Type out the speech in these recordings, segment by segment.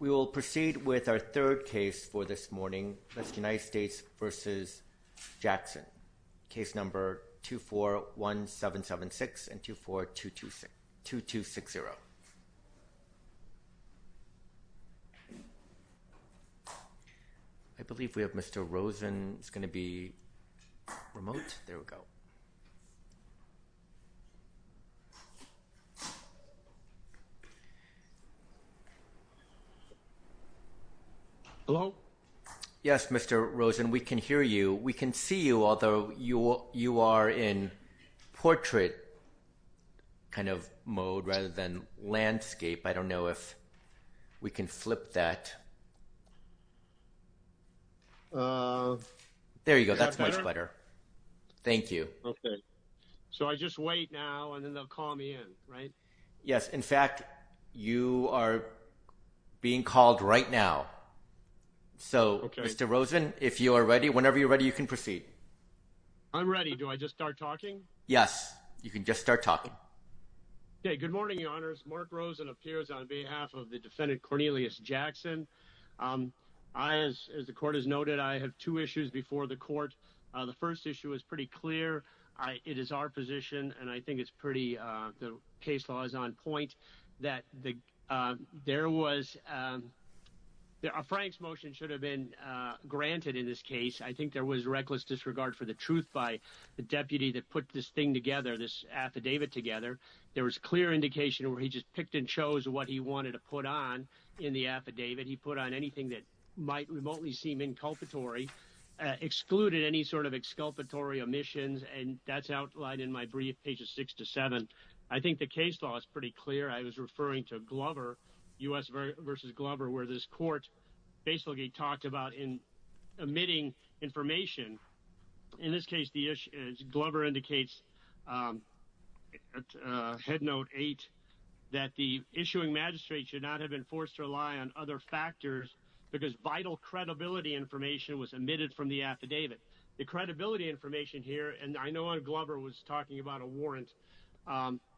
We will proceed with our third case for this morning, United States v. Jackson, case number 241776 and 242260. I believe we have Mr. Rosen. It's going to be remote. There we go. Hello? Yes, Mr. Rosen, we can hear you. We can see you, although you are in portrait kind of mode rather than landscape. I don't know if we can flip that. There you go. That's much better. Thank you. Okay. So I just wait now, and then they'll call me in, right? Yes, in fact, you are being called right now. So, Mr. Rosen, if you are ready, whenever you're ready, you can proceed. I'm ready. Do I just start talking? Yes, you can just start talking. Okay, good morning, Your Honors. Mark Rosen appears on behalf of the defendant, Cornelius Jackson. As the Court has noted, I have two issues before the Court. The first issue is pretty clear. It is our position, and I think it's pretty, the case law is on point, that there was, Frank's motion should have been granted in this case. I think there was reckless disregard for the truth by the deputy that put this thing together, this affidavit together. There was clear indication where he just picked and chose what he wanted to put on in the affidavit. He put on anything that might remotely seem inculpatory, excluded any sort of exculpatory omissions, and that's outlined in my brief, pages six to seven. I think the case law is pretty clear. I was referring to Glover, U.S. v. Glover, where this Court basically talked about emitting information. In this case, Glover indicates at head note eight that the issuing magistrate should not have been forced to rely on other factors because vital credibility information was emitted from the affidavit. The credibility information here, and I know Glover was talking about a warrant,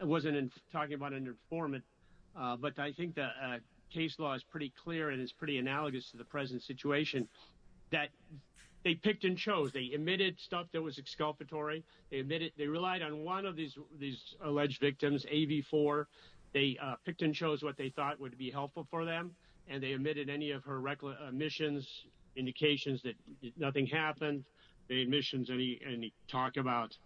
wasn't talking about an informant, but I think the case law is pretty clear and is pretty analogous to the present situation, that they picked and chose. They emitted stuff that was exculpatory. They relied on one of these alleged victims, AV4. They picked and chose what they thought would be helpful for them, and they omitted any of her omissions, indications that nothing happened, the omissions, any talk about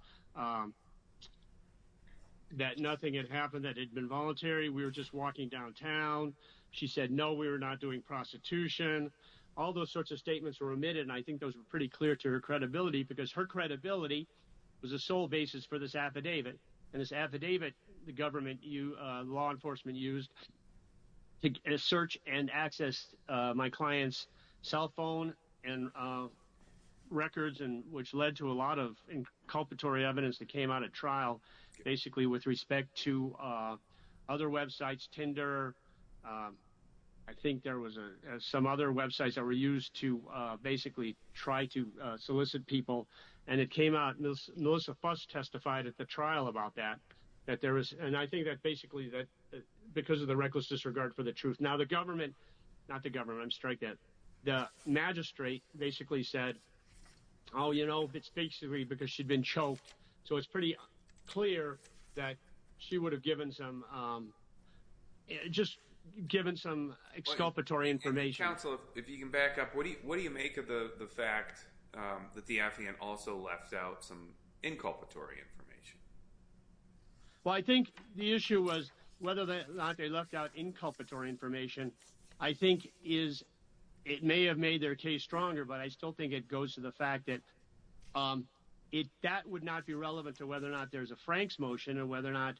that nothing had happened that had been voluntary, we were just walking downtown. She said, no, we were not doing prostitution. All those sorts of statements were omitted, and I think those were pretty clear to her credibility because her credibility was the sole basis for this affidavit, and this affidavit the law enforcement used to search and access my client's cell phone and records, which led to a lot of inculpatory evidence that came out at trial, basically with respect to other websites, Tinder. I think there were some other websites that were used to basically try to solicit people, and it came out, Melissa Fuss testified at the trial about that, and I think that basically because of the reckless disregard for the truth. Now the government, not the government, I'm striking at, the magistrate basically said, oh, you know, it's basically because she'd been choked, so it's pretty clear that she would have given some, just given some exculpatory information. Mr. Counsel, if you can back up, what do you make of the fact that the affidavit also left out some inculpatory information? Well, I think the issue was whether or not they left out inculpatory information. I think it may have made their case stronger, but I still think it goes to the fact that that would not be relevant to whether or not there's a Franks motion and whether or not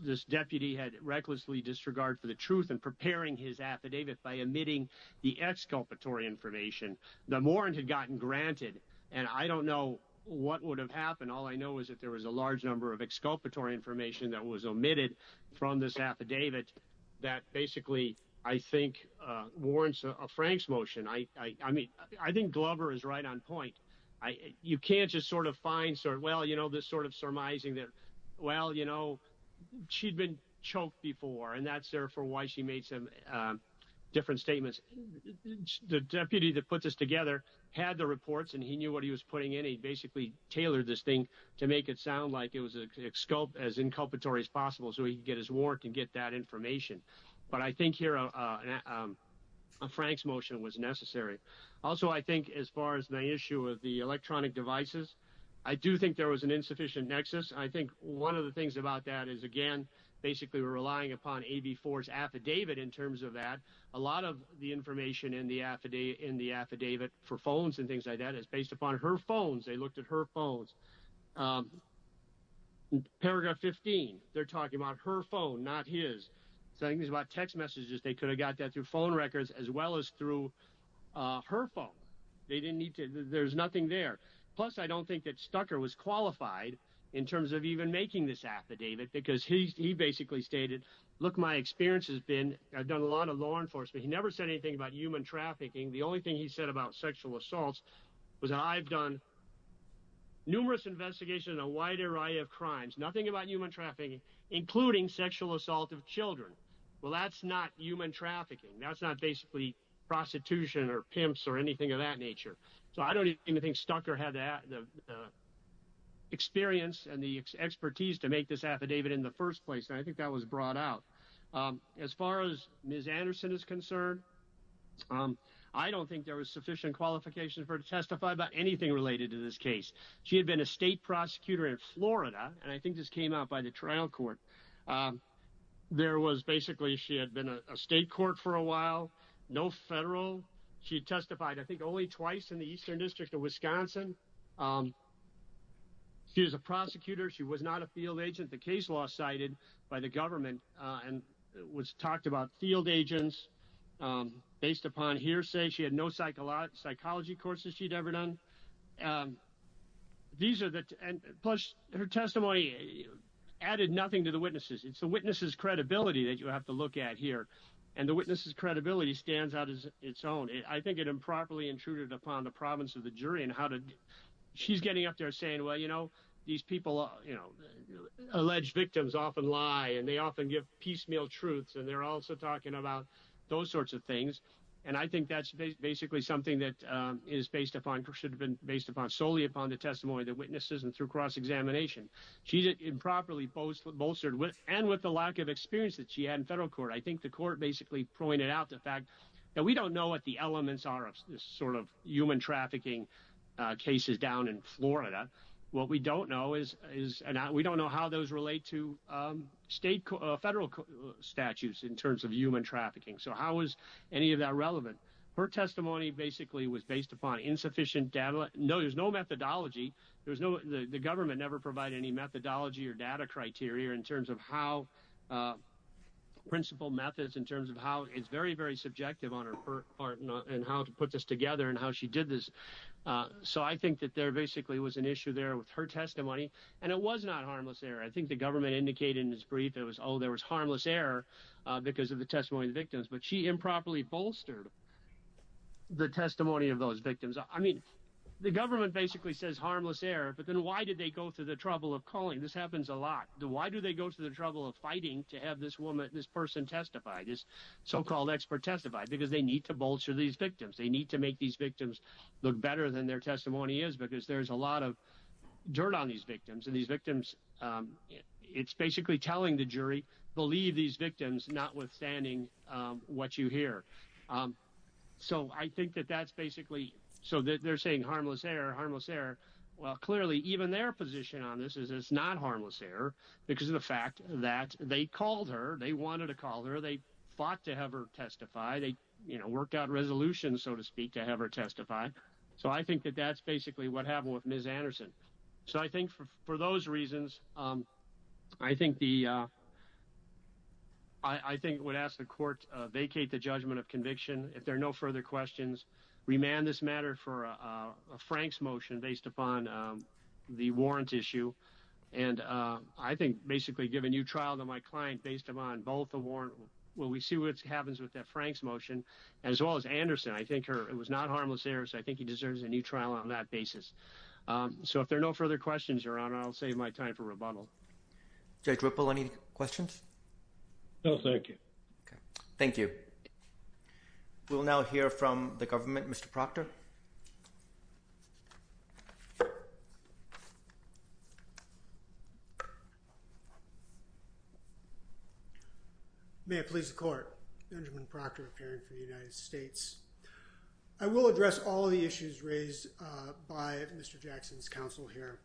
this deputy had recklessly disregard for the truth and preparing his affidavit by omitting the exculpatory information. The warrant had gotten granted, and I don't know what would have happened. All I know is that there was a large number of exculpatory information that was omitted from this affidavit that basically, I think, warrants a Franks motion. I mean, I think Glover is right on point. You can't just sort of find, well, you know, this sort of surmising that, well, you know, she'd been choked before, and that's therefore why she made some different statements. The deputy that put this together had the reports, and he knew what he was putting in. He basically tailored this thing to make it sound like it was as inculpatory as possible so he could get his warrant and get that information. But I think here a Franks motion was necessary. Also, I think as far as the issue of the electronic devices, I do think there was an insufficient nexus. I think one of the things about that is, again, basically relying upon AV-4's affidavit in terms of that. A lot of the information in the affidavit for phones and things like that is based upon her phones. They looked at her phones. Paragraph 15, they're talking about her phone, not his. So I think these are about text messages. They could have got that through phone records as well as through her phone. They didn't need to. There's nothing there. Plus, I don't think that Stucker was qualified in terms of even making this affidavit because he basically stated, look, my experience has been I've done a lot of law enforcement. He never said anything about human trafficking. The only thing he said about sexual assaults was I've done numerous investigations in a wide array of crimes, nothing about human trafficking, including sexual assault of children. Well, that's not human trafficking. That's not basically prostitution or pimps or anything of that nature. So I don't even think Stucker had the experience and the expertise to make this affidavit in the first place. And I think that was brought out. As far as Ms. Anderson is concerned, I don't think there was sufficient qualification for her to testify about anything related to this case. She had been a state prosecutor in Florida. And I think this came out by the trial court. There was basically she had been a state court for a while, no federal. She testified I think only twice in the Eastern District of Wisconsin. She was a prosecutor. She was not a field agent. The case law cited by the government was talked about field agents based upon hearsay. She had no psychology courses she'd ever done. These are the ‑‑ plus her testimony added nothing to the witnesses. It's the witnesses' credibility that you have to look at here. And the witnesses' credibility stands out as its own. I think it improperly intruded upon the province of the jury. She's getting up there saying, well, you know, these people, you know, alleged victims often lie and they often give piecemeal truths. And they're also talking about those sorts of things. And I think that's basically something that is based upon, should have been based upon solely upon the testimony of the witnesses and through cross-examination. She improperly bolstered, and with the lack of experience that she had in federal court. I think the court basically pointed out the fact that we don't know what the elements are of this sort of human trafficking cases down in Florida. What we don't know is ‑‑ we don't know how those relate to state ‑‑ federal statutes in terms of human trafficking. So how is any of that relevant? Her testimony basically was based upon insufficient data. There's no methodology. The government never provided any methodology or data criteria in terms of how ‑‑ principle methods in terms of how it's very, very subjective on her part and how to put this together and how she did this. So I think that there basically was an issue there with her testimony. And it was not harmless error. I think the government indicated in its brief it was, oh, there was harmless error because of the testimony of the victims. But she improperly bolstered the testimony of those victims. I mean, the government basically says harmless error, but then why did they go to the trouble of calling? This happens a lot. Why do they go to the trouble of fighting to have this woman, this person testified, this so‑called expert testified? Because they need to bolster these victims. They need to make these victims look better than their testimony is because there's a lot of dirt on these victims. And these victims ‑‑ it's basically telling the jury, believe these victims, notwithstanding what you hear. So I think that that's basically ‑‑ so they're saying harmless error, harmless error. Well, clearly, even their position on this is it's not harmless error because of the fact that they called her. They wanted to call her. They fought to have her testify. They, you know, worked out resolutions, so to speak, to have her testify. So I think that that's basically what happened with Ms. Anderson. So I think for those reasons, I think the ‑‑ I think I would ask the court to vacate the judgment of conviction. If there are no further questions, remand this matter for a Franks motion based upon the warrant issue. And I think basically give a new trial to my client based upon both the warrant. Well, we see what happens with that Franks motion as well as Anderson. I think it was not harmless error, so I think he deserves a new trial on that basis. So if there are no further questions, Your Honor, I'll save my time for rebuttal. Judge Whipple, any questions? No, thank you. Okay. Thank you. We'll now hear from the government. Mr. Proctor. May it please the court. Benjamin Proctor, a parent for the United States. I will address all the issues raised by Mr. Jackson's counsel here.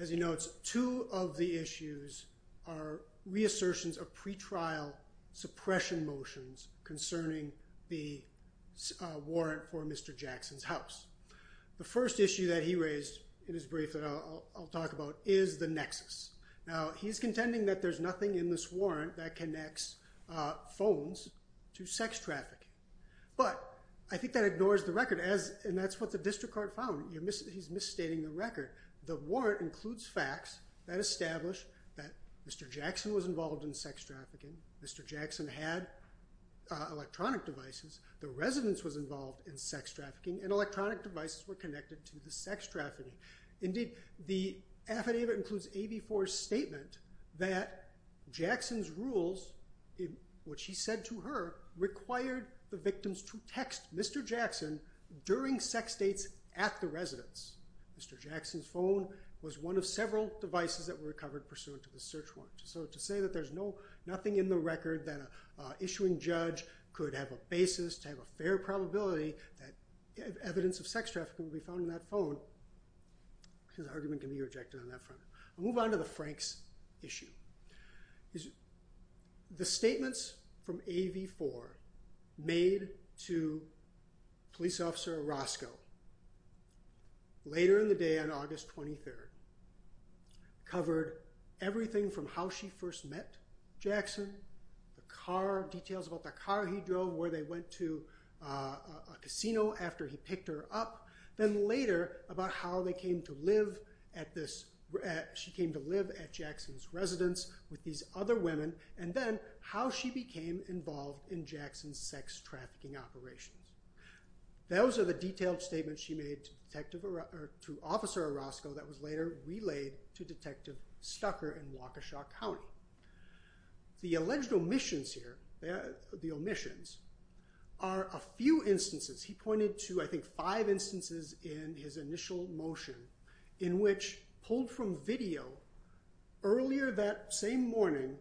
As he notes, two of the issues are reassertions of pretrial suppression motions concerning the warrant for Mr. Jackson's house. The first issue that he raised in his brief that I'll talk about is the nexus. Now, he's contending that there's nothing in this warrant that connects phones to sex trafficking. But I think that ignores the record, and that's what the district court found. He's misstating the record. The warrant includes facts that establish that Mr. Jackson was involved in sex trafficking. Mr. Jackson had electronic devices. The residence was involved in sex trafficking, and electronic devices were connected to the sex trafficking. Indeed, the affidavit includes AV4's statement that Jackson's rules, which he said to her, required the victims to text Mr. Jackson during sex dates at the residence. Mr. Jackson's phone was one of several devices that were recovered pursuant to the search warrant. So to say that there's nothing in the record that an issuing judge could have a basis to have a fair probability that evidence of sex trafficking would be found in that phone, his argument can be rejected on that front. I'll move on to the Franks issue. The statements from AV4 made to Police Officer Orozco later in the day on August 23rd covered everything from how she first met Jackson, the car details about the car he drove, where they went to a casino after he picked her up, then later about how she came to live at Jackson's residence with these other women, and then how she became involved in Jackson's sex trafficking operations. Those are the detailed statements she made to Officer Orozco that was later relayed to Detective Stucker in Waukesha County. The alleged omissions here are a few instances. He pointed to, I think, five instances in his initial motion in which pulled from video earlier that same morning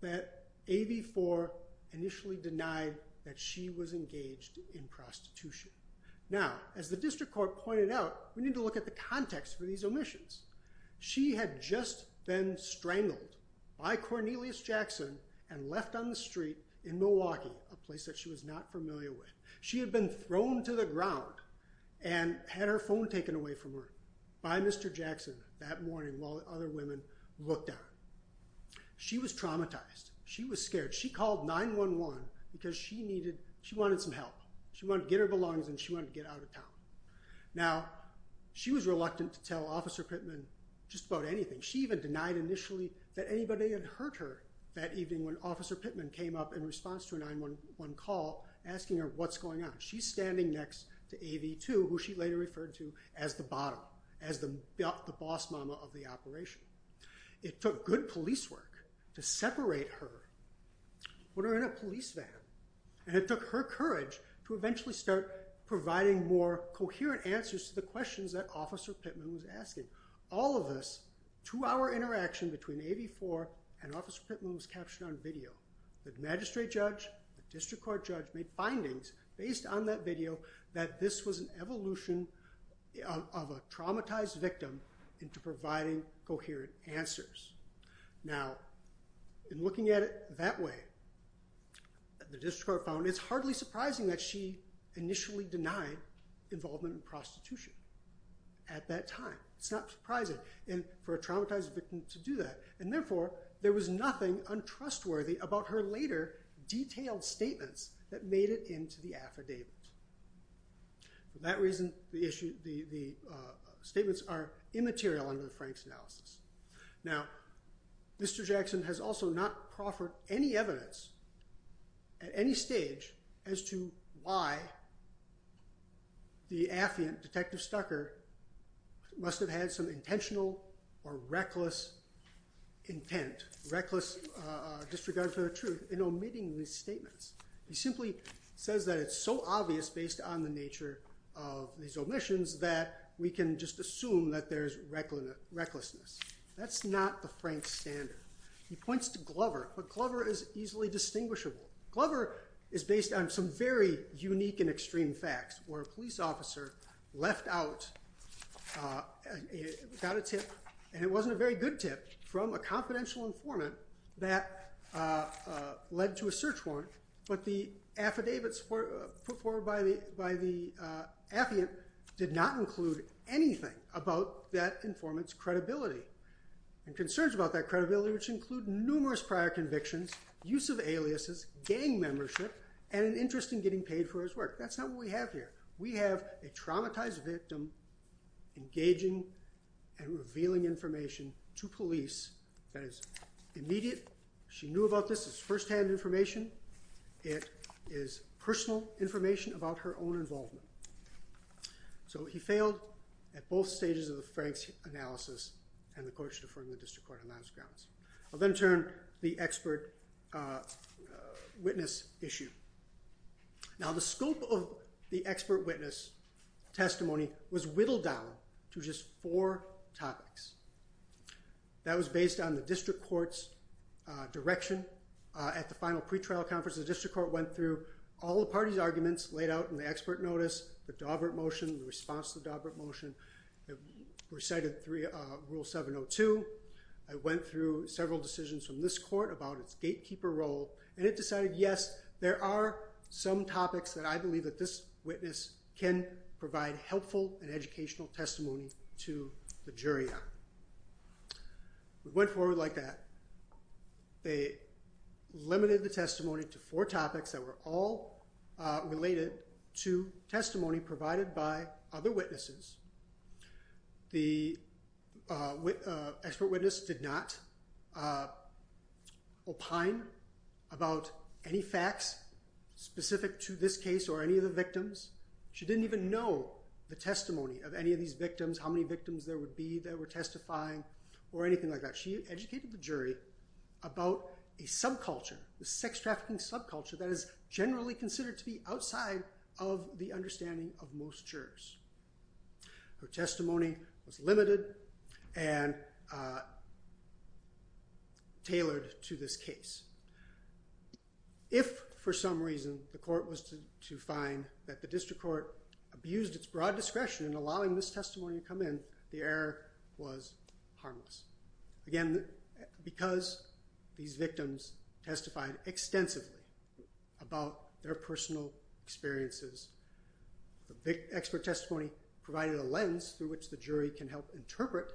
that AV4 initially denied that she was engaged in prostitution. Now, as the District Court pointed out, we need to look at the context for these omissions. She had just been strangled by Cornelius Jackson and left on the street in Milwaukee, a place that she was not familiar with. She had been thrown to the ground and had her phone taken away from her by Mr. Jackson that morning while other women looked at her. She was traumatized. She was scared. She called 911 because she needed, she wanted some help. She wanted to get her belongings and she wanted to get out of town. Now, she was reluctant to tell Officer Pittman just about anything. She even denied initially that anybody had hurt her that evening when Officer Pittman came up in response to a 911 call asking her what's going on. She's standing next to AV2, who she later referred to as the bottom, as the boss mama of the operation. It took good police work to separate her when her in a police van. And it took her courage to eventually start providing more coherent answers to the questions that Officer Pittman was asking. All of this two-hour interaction between AV4 and Officer Pittman was captured on video. The magistrate judge, the District Court judge made findings based on that video that this was an evolution of a traumatized victim into providing coherent answers. Now, in looking at it that way, the District Court found it's hardly surprising that she initially denied involvement in prostitution at that time. It's not surprising for a traumatized victim to do that. And therefore, there was nothing untrustworthy about her later detailed statements that made it into the affidavit. For that reason, the statements are immaterial under the Franks analysis. Now, Mr. Jackson has also not proffered any evidence at any stage as to why the affiant, Detective Stucker, must have had some intentional or reckless intent, reckless disregard for the truth in omitting these statements. He simply says that it's so obvious based on the nature of these omissions that we can just assume that there's recklessness. That's not the Franks standard. He points to Glover, but Glover is easily distinguishable. Glover is based on some very unique and extreme facts where a police officer left out, got a tip, and it wasn't a very good tip, from a confidential informant that led to a search warrant, but the affidavits put forward by the affiant did not include anything about that informant's credibility. And concerns about that credibility, which include numerous prior convictions, use of aliases, gang membership, and an interest in getting paid for his work. That's not what we have here. We have a traumatized victim engaging and revealing information to police that is immediate. She knew about this. It's firsthand information. It is personal information about her own involvement. So he failed at both stages of the Franks analysis, and the court should affirm the district court on those grounds. I'll then turn to the expert witness issue. Now, the scope of the expert witness testimony was whittled down to just four topics. That was based on the district court's direction at the final pretrial conference. The district court went through all the party's arguments laid out in the expert notice, the Daubert motion, the response to the Daubert motion, recited rule 702. It went through several decisions from this court about its gatekeeper role, and it decided, yes, there are some topics that I believe that this witness can provide helpful and educational testimony to the jury on. It went forward like that. They limited the testimony to four topics that were all related to testimony provided by other witnesses. The expert witness did not opine about any facts specific to this case or any of the victims. She didn't even know the testimony of any of these victims, how many victims there would be that were testifying or anything like that. She educated the jury about a subculture, the sex trafficking subculture that is generally considered to be outside of the understanding of most jurors. Her testimony was limited and tailored to this case. If for some reason the court was to find that the district court abused its broad discretion in allowing this testimony to come in, the error was harmless. Again, because these victims testified extensively about their personal experiences, the expert testimony provided a lens through which the jury can help interpret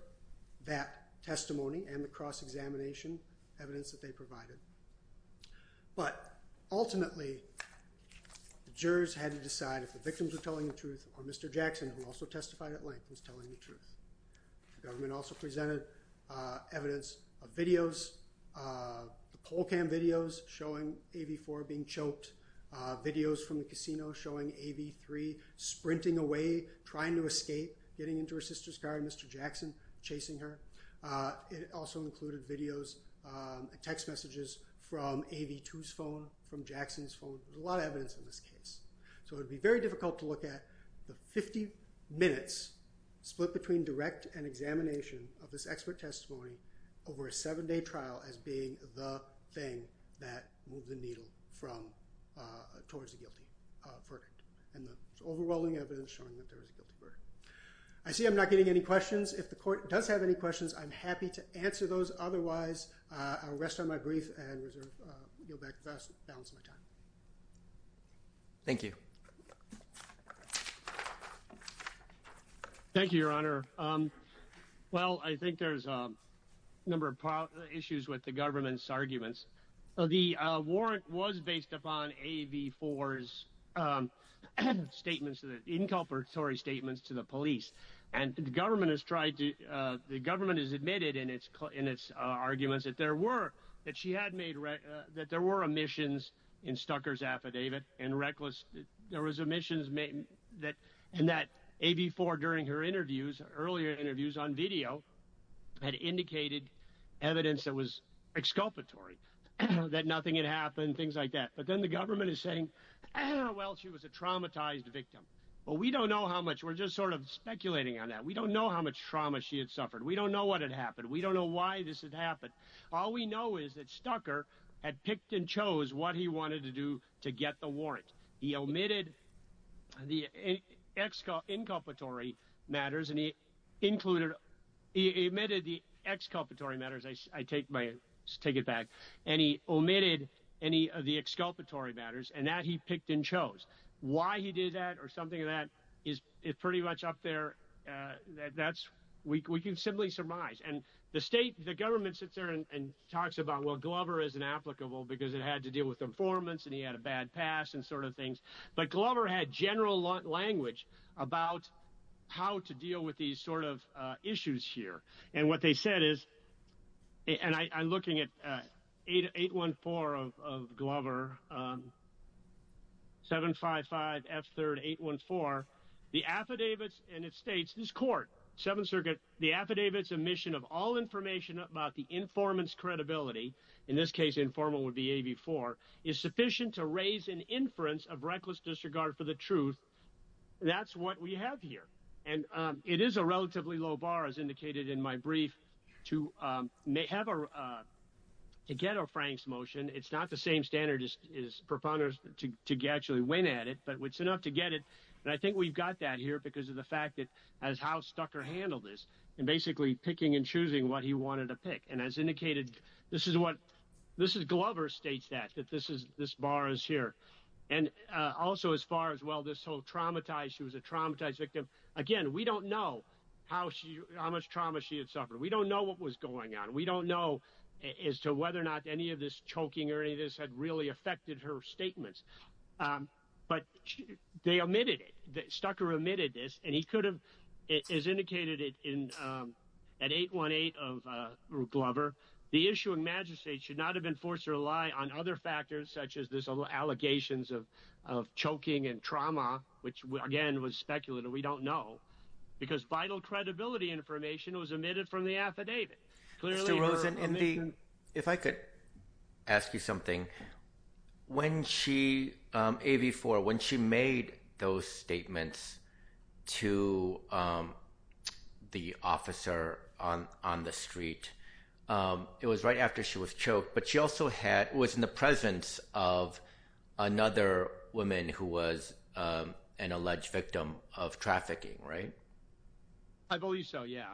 that testimony and the cross-examination evidence that they provided. But ultimately, the jurors had to decide if the victims were telling the truth or Mr. Jackson, who also testified at length, was telling the truth. The government also presented evidence of videos, the poll cam videos showing AV4 being choked, videos from the casino showing AV3 sprinting away, trying to escape, getting into her sister's car and Mr. Jackson chasing her. It also included videos and text messages from AV2's phone, from Jackson's phone. There's a lot of evidence in this case. So it would be very difficult to look at the 50 minutes split between direct and examination of this expert testimony over a seven-day trial as being the thing that moved the needle towards the guilty verdict. And the overwhelming evidence showing that there was a guilty verdict. I see I'm not getting any questions. If the court does have any questions, I'm happy to answer those. Otherwise, I'll rest on my grief and yield back the balance of my time. Thank you. Thank you, Your Honor. Well, I think there's a number of issues with the government's arguments. The warrant was based upon AV4's statements, inculpatory statements to the police. And the government has tried to – the government has admitted in its arguments that there were – that she had made – that there were omissions in Stucker's affidavit and reckless – there was omissions that – and that AV4 during her interviews, earlier interviews on video, had indicated evidence that was exculpatory, that nothing had happened, things like that. But then the government is saying, well, she was a traumatized victim. Well, we don't know how much – we're just sort of speculating on that. We don't know how much trauma she had suffered. We don't know what had happened. We don't know why this had happened. All we know is that Stucker had picked and chose what he wanted to do to get the warrant. He omitted the inculpatory matters, and he included – he omitted the exculpatory matters. I take my – take it back. And he omitted any of the exculpatory matters, and that he picked and chose. Why he did that or something like that is pretty much up there. That's – we can simply surmise. And the state – the government sits there and talks about, well, Glover is inapplicable because it had to deal with informants and he had a bad past and sort of things. But Glover had general language about how to deal with these sort of issues here. And what they said is – and I'm looking at 814 of Glover, 755F3rd814. The affidavits – and it states, this court, Seventh Circuit, the affidavits omission of all information about the informant's credibility – in this case, informal would be AV4 – is sufficient to raise an inference of reckless disregard for the truth. That's what we have here. And it is a relatively low bar, as indicated in my brief, to have a – to get a Franks motion. It's not the same standard as proponents to actually win at it, but it's enough to get it. And I think we've got that here because of the fact that as House Stucker handled this and basically picking and choosing what he wanted to pick. And as indicated, this is what – this is – Glover states that, that this is – this bar is here. And also, as far as, well, this whole traumatized – she was a traumatized victim. Again, we don't know how she – how much trauma she had suffered. We don't know what was going on. We don't know as to whether or not any of this choking or any of this had really affected her statements. But they omitted it. Stucker omitted this, and he could have – as indicated in – at 818 of Glover, the issue of majesty should not have been forced to rely on other factors such as this allegations of choking and trauma, which, again, was speculative. We don't know because vital credibility information was omitted from the affidavit. Mr. Rosen, in the – if I could ask you something. When she – AV-4, when she made those statements to the officer on the street, it was right after she was choked, but she also had – it was in the presence of another woman who was an alleged victim of trafficking, right? I believe so, yeah.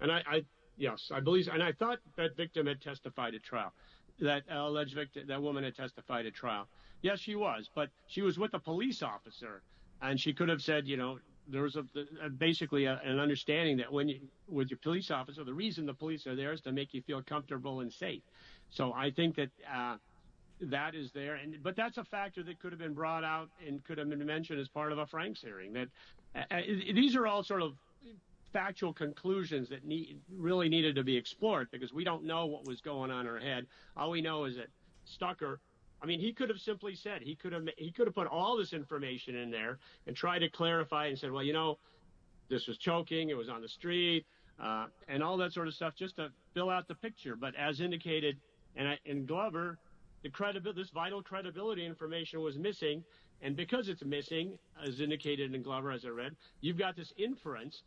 And I – yes, I believe – and I thought that victim had testified at trial, that alleged – that woman had testified at trial. Yes, she was, but she was with a police officer, and she could have said, you know – there was basically an understanding that when you're with your police officer, the reason the police are there is to make you feel comfortable and safe. So I think that that is there, but that's a factor that could have been brought out and could have been mentioned as part of a Franks hearing. These are all sort of factual conclusions that really needed to be explored because we don't know what was going on in her head. All we know is that Stucker – I mean, he could have simply said – he could have put all this information in there and tried to clarify and said, well, you know, this was choking, it was on the street, and all that sort of stuff just to fill out the picture. But as indicated in Glover, this vital credibility information was missing, and because it's missing, as indicated in Glover, as I read, you've got this inference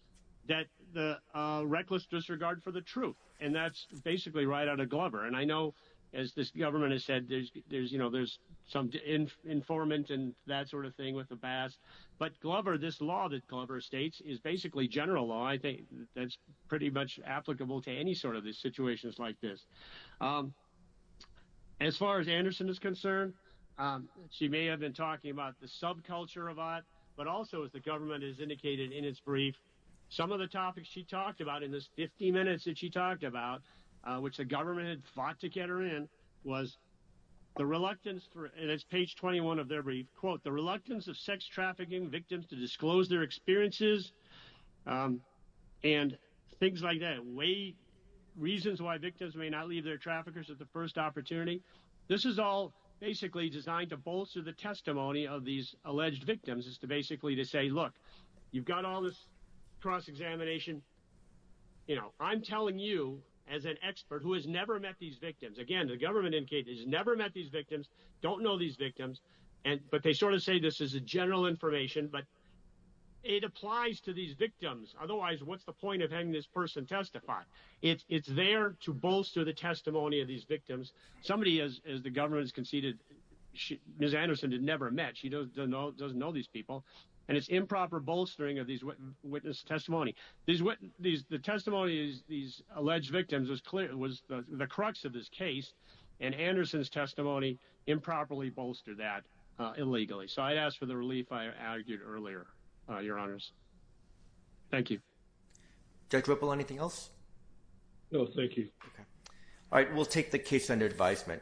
that the reckless disregard for the truth, and that's basically right out of Glover. And I know, as this government has said, there's some informant and that sort of thing with the Bass, but Glover – this law that Glover states is basically general law. I think that's pretty much applicable to any sort of situations like this. As far as Anderson is concerned, she may have been talking about the subculture of OTT, but also, as the government has indicated in its brief, some of the topics she talked about in this 50 minutes that she talked about, which the government had fought to get her in, was the reluctance – and it's page 21 of their brief – quote, the reluctance of sex trafficking victims to disclose their experiences and things like that, reasons why victims may not leave their traffickers at the first opportunity. This is all basically designed to bolster the testimony of these alleged victims, is basically to say, look, you've got all this cross-examination. I'm telling you, as an expert who has never met these victims – again, the government has never met these victims, don't know these victims, but they sort of say this is general information, but it applies to these victims. Otherwise, what's the point of having this person testify? It's there to bolster the testimony of these victims. Somebody, as the government has conceded, Ms. Anderson had never met, she doesn't know these people, and it's improper bolstering of these witness testimony. The testimony of these alleged victims was the crux of this case, and Anderson's testimony improperly bolstered that illegally. So I'd ask for the relief I argued earlier, Your Honors. Thank you. Judge Whipple, anything else? No, thank you. All right, we'll take the case under advisement.